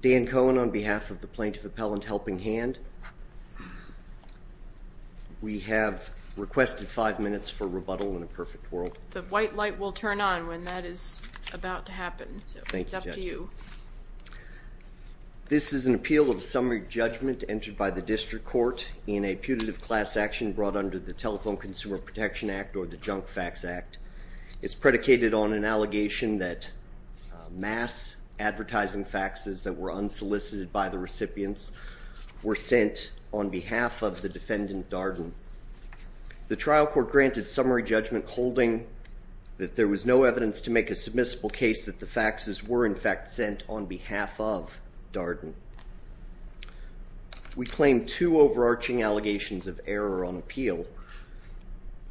Dan Cohen on behalf of the Plaintiff Appellant Helping Hand. We have requested five minutes for rebuttal in a perfect world. The white light will turn on when that is about to happen, so it's up to you. This is an appeal of summary judgment entered by the District Court in a putative class action brought under the Telephone Consumer Protection Act or the Junk Fax Act. It's predicated on an allegation that mass advertising faxes that were unsolicited by the recipients were sent on behalf of the defendant, Darden. The trial court granted summary judgment holding that there was no evidence to make a submissible case that the faxes were in fact sent on behalf of Darden. We claim two overarching allegations of error on appeal.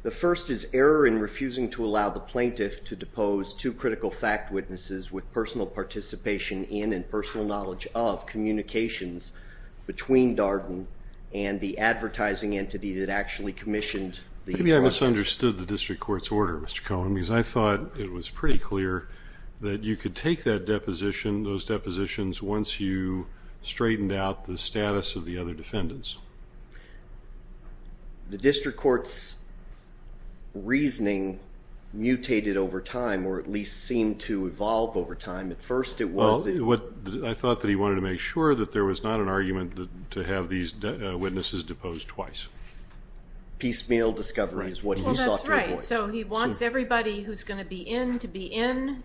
The first is error in refusing to allow the plaintiff to depose two critical fact witnesses with personal participation in and personal knowledge of communications between Darden and the advertising entity that actually commissioned the products. Maybe I misunderstood the District Court's order, Mr. Cohen, because I thought it was pretty clear that you could take that deposition, those depositions, once you straightened out the status of the other defendants. The District Court's reasoning mutated over time or at least seemed to evolve over time. At first it was that... I thought that he wanted to make sure that there was not an argument to have these witnesses deposed twice. Piecemeal discovery is what he sought to avoid. Well, that's right. So he wants everybody who's going to be in to be in,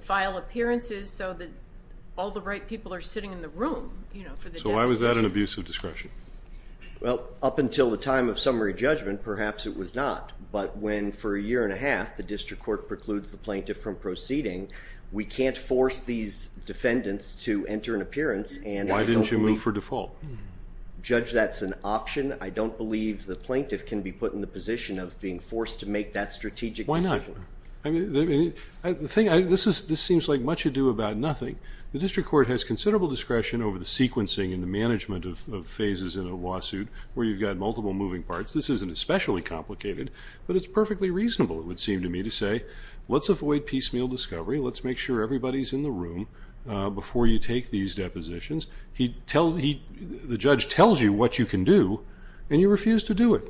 file appearances so that all the right people are sitting in the room for the deposition. So why was that an abuse of discretion? Well, up until the time of summary judgment, perhaps it was not. But when, for a year and a half, the District Court precludes the plaintiff from proceeding, we can't force these defendants to enter an appearance and... Why didn't you move for default? Judge, that's an option. I don't believe the plaintiff can be put in the position of being forced to make that strategic decision. Why not? I mean, this seems like much ado about nothing. The District Court has considerable discretion over the sequencing and the management of phases in a lawsuit where you've got multiple moving parts. This isn't especially complicated, but it's perfectly reasonable, it would seem to me, to say, let's avoid piecemeal discovery. Let's make sure everybody's in the room before you take these depositions. The judge tells you what you can do, and you refuse to do it.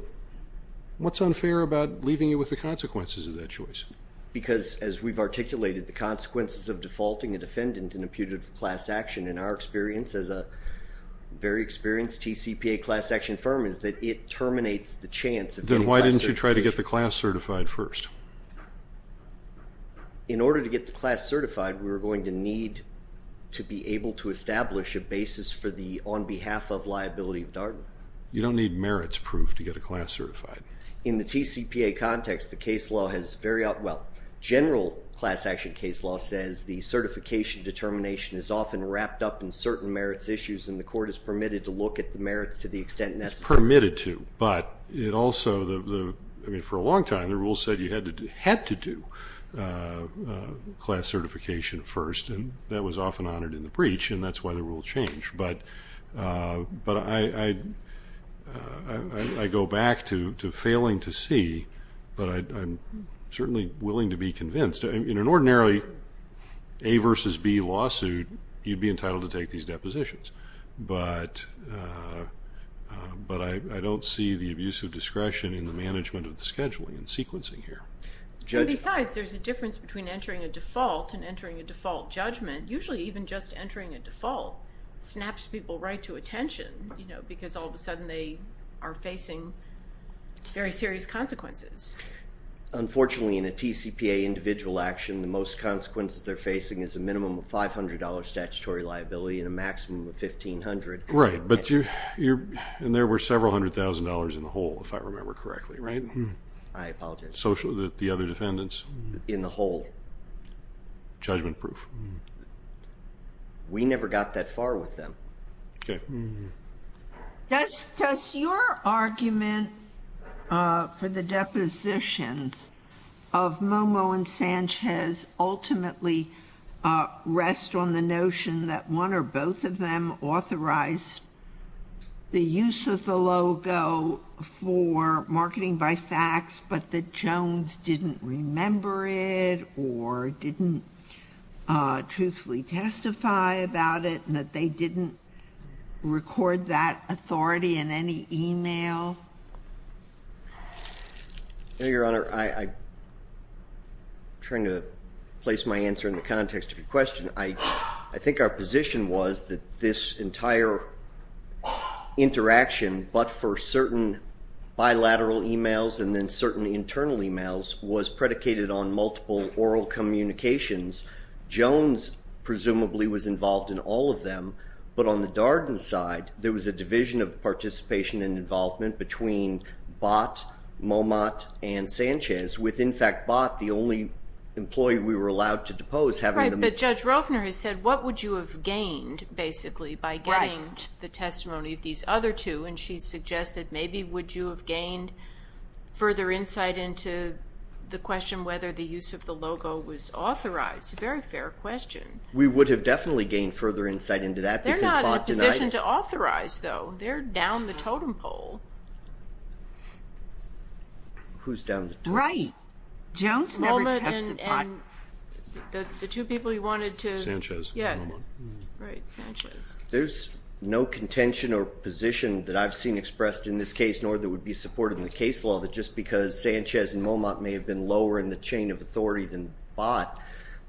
What's unfair about leaving you with the consequences of that choice? Because, as we've articulated, the consequences of defaulting a defendant in imputative class action, in our experience, as a very experienced TCPA class action firm, is that it terminates the chance of getting class certification. Then why didn't you try to get the class certified first? In order to get the class certified, we were going to need to be able to establish a basis on behalf of liability of Darden. You don't need merits proof to get a class certified. In the TCPA context, the general class action case law says the certification determination is often wrapped up in certain merits issues, and the court is permitted to look at the merits to the extent necessary. It's permitted to, but also, for a long time, the rule said you had to do class certification first, and that was often honored in the breach, and that's why the rule changed. But I go back to failing to see, but I'm certainly willing to be convinced. In an ordinary A versus B lawsuit, you'd be entitled to take these depositions, but I don't see the abuse of discretion in the management of the scheduling and sequencing here. Besides, there's a difference between entering a default and entering a default judgment. Usually, even just entering a default snaps people right to attention, because all of a sudden they are facing very serious consequences. Unfortunately, in a TCPA individual action, the most consequences they're facing is a minimum of $500 statutory liability and a maximum of $1,500. Right, and there were several hundred thousand dollars in the hole, if I remember correctly, right? The other defendants? In the hole. Judgment proof. We never got that far with them. Okay. Does your argument for the depositions of Momo and Sanchez ultimately rest on the notion that one or both of them authorized the use of the logo for marketing by fax, but that Jones didn't remember it or didn't truthfully testify about it, and that they didn't record that authority in any email? No, Your Honor. I'm trying to place my answer in the context of your question. I think our position was that this entire interaction, but for certain bilateral emails and then certain internal emails, was predicated on multiple oral communications. Jones presumably was involved in all of them, but on the Darden side, there was a division of participation and involvement between Bott, Momot, and Sanchez, with, in fact, Bott the only employee we were allowed to depose. Right, but Judge Rovner has said, What would you have gained, basically, by getting the testimony of these other two? And she suggested maybe would you have gained further insight into the question whether the use of the logo was authorized. A very fair question. We would have definitely gained further insight into that because Bott denied it. They're not in a position to authorize, though. They're down the totem pole. Who's down the totem pole? Right. Jones never testified. Momot and the two people you wanted to? Sanchez and Momot. Right, Sanchez. There's no contention or position that I've seen expressed in this case, nor that would be supported in the case law, that just because Sanchez and Momot may have been lower in the chain of authority than Bott,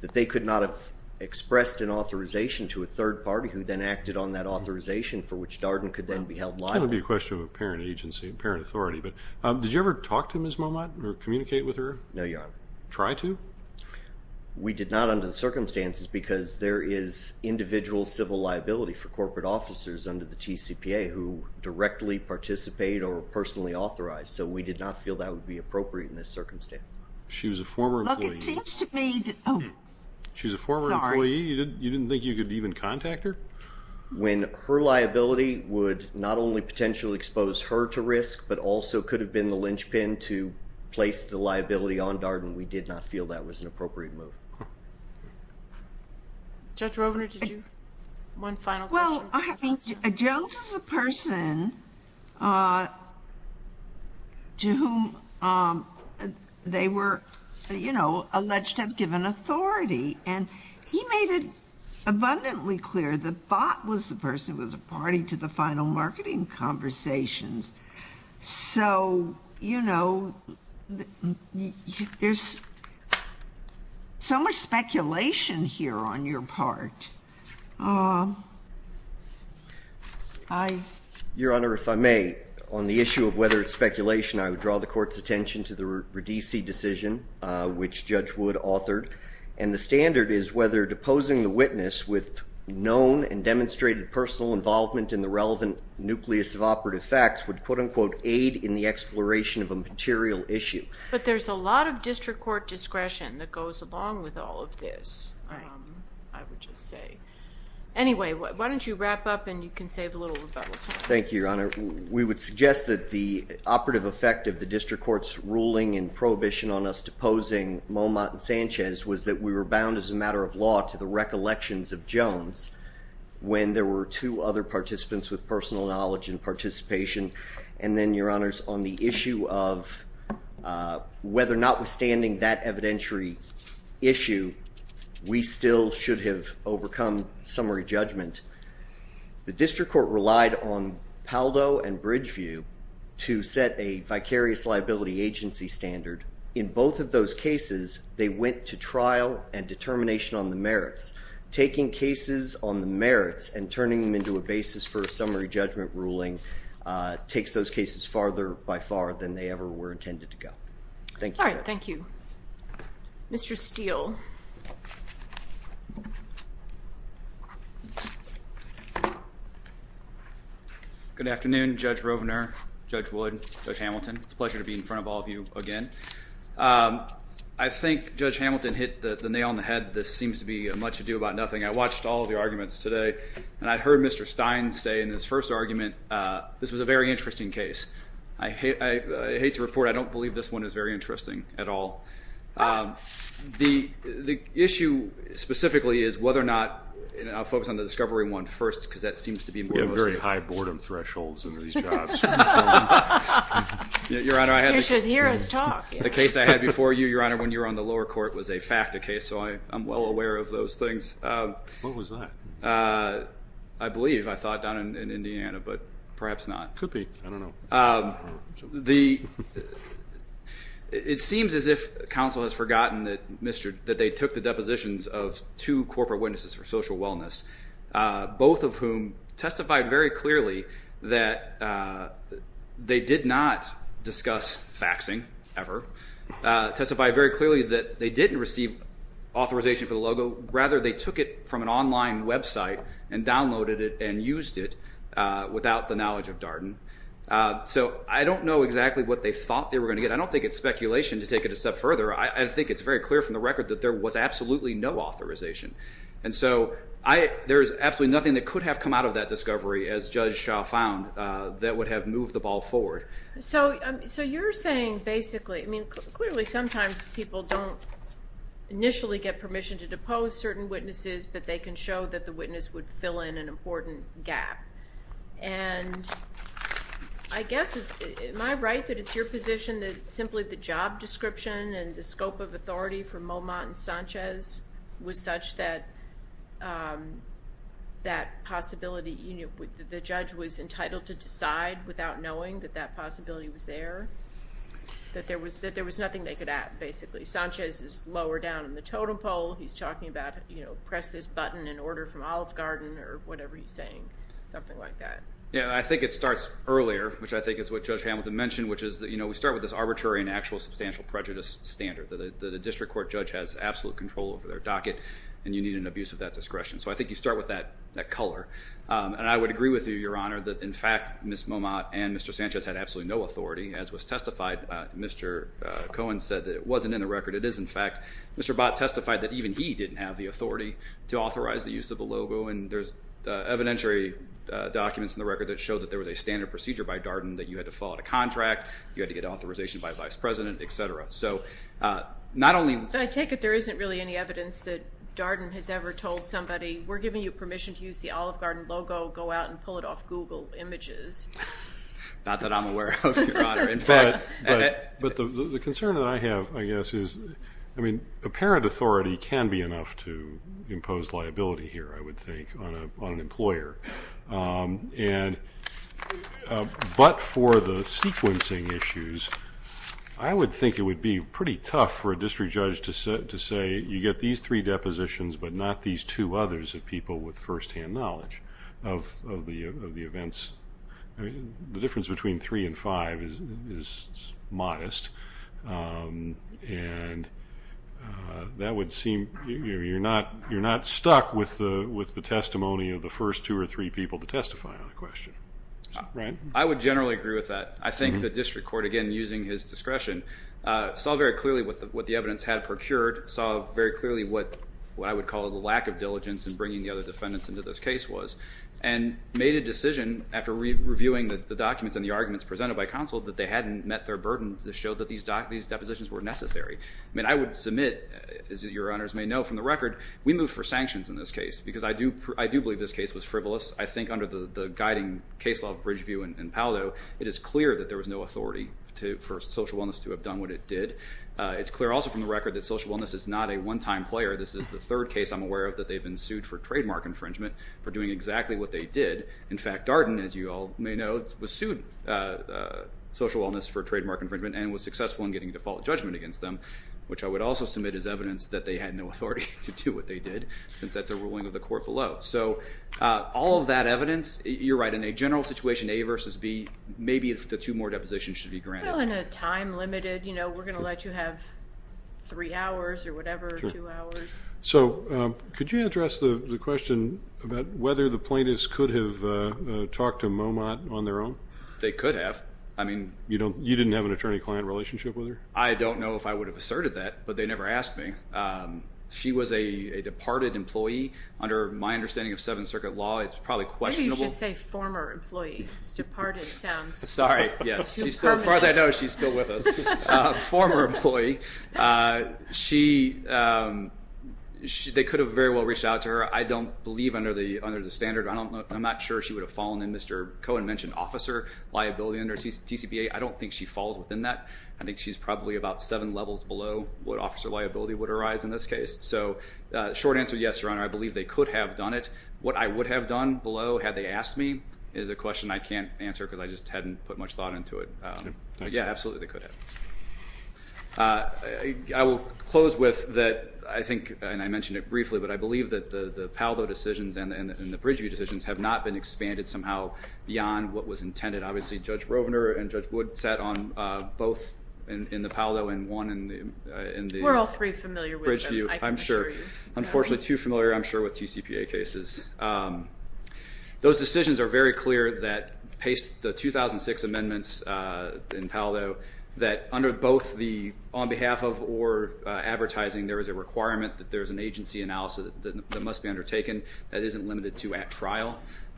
that they could not have expressed an authorization to a third party who then acted on that authorization for which Darden could then be held liable. That would be a question of apparent agency, apparent authority. Did you ever talk to Ms. Momot or communicate with her? No, Your Honor. Try to? We did not under the circumstances because there is individual civil liability for corporate officers under the TCPA who directly participate or are personally authorized, so we did not feel that would be appropriate in this circumstance. She was a former employee. Look, it seems to me that, oh, sorry. She was a former employee. You didn't think you could even contact her? When her liability would not only potentially expose her to risk but also could have been the linchpin to place the liability on Darden, we did not feel that was an appropriate move. Judge Rovner, did you have one final question? Well, Jones is a person to whom they were, you know, alleged to have given authority, and he made it abundantly clear that Bott was the person who was a party to the final marketing conversations. So, you know, there's so much speculation here on your part. Your Honor, if I may, on the issue of whether it's speculation, I would draw the Court's attention to the Radice decision, which Judge Wood authored, and the standard is whether deposing the witness with known and demonstrated personal involvement in the relevant nucleus of operative facts would, quote-unquote, aid in the exploration of a material issue. But there's a lot of district court discretion that goes along with all of this, I would just say. Anyway, why don't you wrap up, and you can save a little rebuttal time. Thank you, Your Honor. We would suggest that the operative effect of the district court's ruling in prohibition on us deposing Momot and Sanchez was that we were bound, as a matter of law, to the recollections of Jones when there were two other participants with personal knowledge and participation. And then, Your Honors, on the issue of whether notwithstanding that evidentiary issue, we still should have overcome summary judgment. The district court relied on Paldo and Bridgeview to set a vicarious liability agency standard. In both of those cases, they went to trial and determination on the merits. Taking cases on the merits and turning them into a basis for a summary judgment ruling takes those cases farther by far than they ever were intended to go. Thank you. All right. Thank you. Mr. Steele. Good afternoon, Judge Rovner, Judge Wood, Judge Hamilton. It's a pleasure to be in front of all of you again. I think Judge Hamilton hit the nail on the head. This seems to be much ado about nothing. I watched all of the arguments today, and I heard Mr. Stein say in his first argument, this was a very interesting case. I hate to report I don't believe this one is very interesting at all. The issue specifically is whether or not, and I'll focus on the discovery one first because that seems to be the most important. We have very high boredom thresholds under these jobs. You should hear us talk. The case I had before you, Your Honor, when you were on the lower court was a FACTA case, so I'm well aware of those things. What was that? I believe. I thought down in Indiana, but perhaps not. Could be. I don't know. It seems as if counsel has forgotten that they took the depositions of two corporate witnesses for social wellness, both of whom testified very clearly that they did not discuss faxing ever, testified very clearly that they didn't receive authorization for the logo. Rather, they took it from an online website and downloaded it and used it without the knowledge of Darden. So I don't know exactly what they thought they were going to get. I don't think it's speculation to take it a step further. I think it's very clear from the record that there was absolutely no authorization. And so there is absolutely nothing that could have come out of that discovery, as Judge Shaw found, that would have moved the ball forward. So you're saying basically, I mean, clearly sometimes people don't initially get permission to depose certain witnesses, but they can show that the witness would fill in an important gap. And I guess, am I right that it's your position that simply the job description and the scope of authority for Momot and Sanchez was such that that possibility, the judge was entitled to decide without knowing that that possibility was there, that there was nothing they could add, basically. Sanchez is lower down in the totem pole. He's talking about, you know, press this button and order from Olive Garden or whatever he's saying, something like that. Yeah, I think it starts earlier, which I think is what Judge Hamilton mentioned, which is that, you know, we start with this arbitrary and actual substantial prejudice standard. The district court judge has absolute control over their docket, and you need an abuse of that discretion. So I think you start with that color. And I would agree with you, Your Honor, that, in fact, Ms. Momot and Mr. Sanchez had absolutely no authority. As was testified, Mr. Cohen said that it wasn't in the record. It is, in fact. Mr. Bott testified that even he didn't have the authority to authorize the use of the logo, and there's evidentiary documents in the record that show that there was a standard procedure by Darden, that you had to file a contract, you had to get authorization by a vice president, et cetera. So I take it there isn't really any evidence that Darden has ever told somebody, we're giving you permission to use the Olive Garden logo, go out and pull it off Google Images. Not that I'm aware of, Your Honor, in fact. But the concern that I have, I guess, is, I mean, apparent authority can be enough to impose liability here, I would think, on an employer. But for the sequencing issues, I would think it would be pretty tough for a district judge to say, you get these three depositions but not these two others of people with firsthand knowledge of the events. The difference between three and five is modest. And that would seem, you're not stuck with the testimony of the first two or three people to testify on the question. Right? I would generally agree with that. I think the district court, again, using his discretion, saw very clearly what the evidence had procured, saw very clearly what I would call the lack of diligence in bringing the other defendants into this case was, and made a decision after reviewing the documents and the arguments presented by counsel that they hadn't met their burden to show that these depositions were necessary. I mean, I would submit, as Your Honors may know from the record, we moved for sanctions in this case, because I do believe this case was frivolous. I think under the guiding case law of Bridgeview and Palo, it is clear that there was no authority for social wellness to have done what it did. It's clear also from the record that social wellness is not a one-time player. This is the third case I'm aware of that they've been sued for trademark infringement for doing exactly what they did. In fact, Darden, as you all may know, was sued social wellness for trademark infringement and was successful in getting a default judgment against them, which I would also submit as evidence that they had no authority to do what they did, since that's a ruling of the court below. So all of that evidence, you're right, in a general situation, A versus B, maybe the two more depositions should be granted. Well, in a time limited, you know, we're going to let you have three hours or whatever, two hours. So could you address the question about whether the plaintiffs could have talked to Momot on their own? They could have. I mean, you didn't have an attorney-client relationship with her? I don't know if I would have asserted that, but they never asked me. She was a departed employee. Under my understanding of Seventh Circuit law, it's probably questionable. Maybe you should say former employee. Departed sounds too permanent. Sorry, yes. As far as I know, she's still with us. Former employee. They could have very well reached out to her. I don't believe under the standard. I'm not sure she would have fallen in Mr. Cohen mentioned officer liability under TCPA. I don't think she falls within that. I think she's probably about seven levels below what officer liability would arise in this case. So short answer, yes, Your Honor, I believe they could have done it. What I would have done below had they asked me is a question I can't answer because I just hadn't put much thought into it. Yeah, absolutely they could have. I will close with that I think, and I mentioned it briefly, but I believe that the Paldo decisions and the Bridgeview decisions have not been expanded somehow beyond what was intended. Obviously, Judge Rovner and Judge Wood sat on both in the Paldo and one in the Bridgeview. We're all three familiar with them. I can assure you. I'm sure. Unfortunately, too familiar, I'm sure, with TCPA cases. Those decisions are very clear that the 2006 amendments in Paldo, that under both the on behalf of or advertising there is a requirement that there is an agency analysis that must be undertaken. That isn't limited to at trial,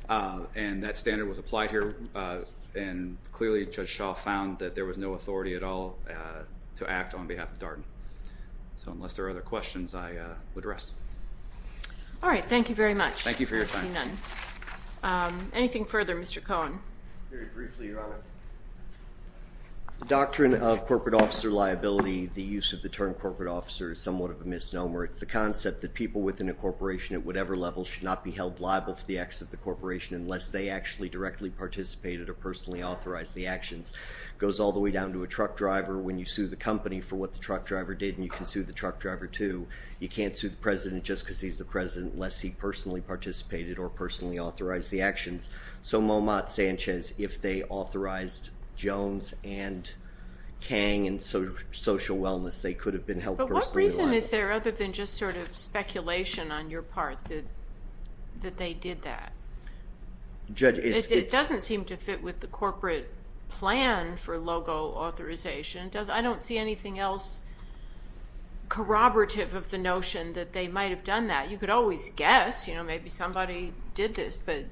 and that standard was applied here, and clearly Judge Shaw found that there was no authority at all to act on behalf of Darden. So unless there are other questions, I would rest. All right. Thank you very much. Thank you for your time. I see none. Anything further, Mr. Cohen? Very briefly, Your Honor. The doctrine of corporate officer liability, the use of the term corporate officer, is somewhat of a misnomer. It's the concept that people within a corporation at whatever level should not be held liable for the acts of the corporation unless they actually directly participated or personally authorized the actions. It goes all the way down to a truck driver. When you sue the company for what the truck driver did, and you can sue the truck driver too, you can't sue the president just because he's the president unless he personally participated or personally authorized the actions. So Momot Sanchez, if they authorized Jones and Kang and Social Wellness, they could have been held personally liable. But what reason is there other than just sort of speculation on your part that they did that? It doesn't seem to fit with the corporate plan for logo authorization. I don't see anything else corroborative of the notion that they might have done that. You could always guess, you know, maybe somebody did this, but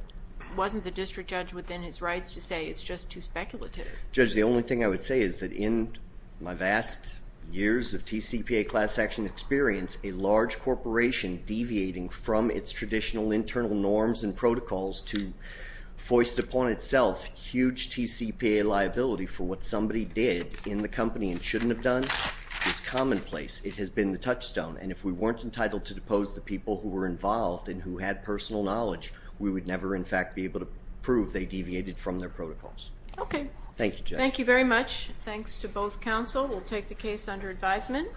wasn't the district judge within his rights to say it's just too speculative? Judge, the only thing I would say is that in my vast years of TCPA class action experience, a large corporation deviating from its traditional internal norms and protocols to foist upon itself huge TCPA liability for what somebody did in the company and shouldn't have done is commonplace. It has been the touchstone. And if we weren't entitled to depose the people who were involved and who had personal knowledge, we would never in fact be able to prove they deviated from their protocols. Okay. Thank you, Judge. Thank you very much. Thanks to both counsel. We'll take the case under advisement.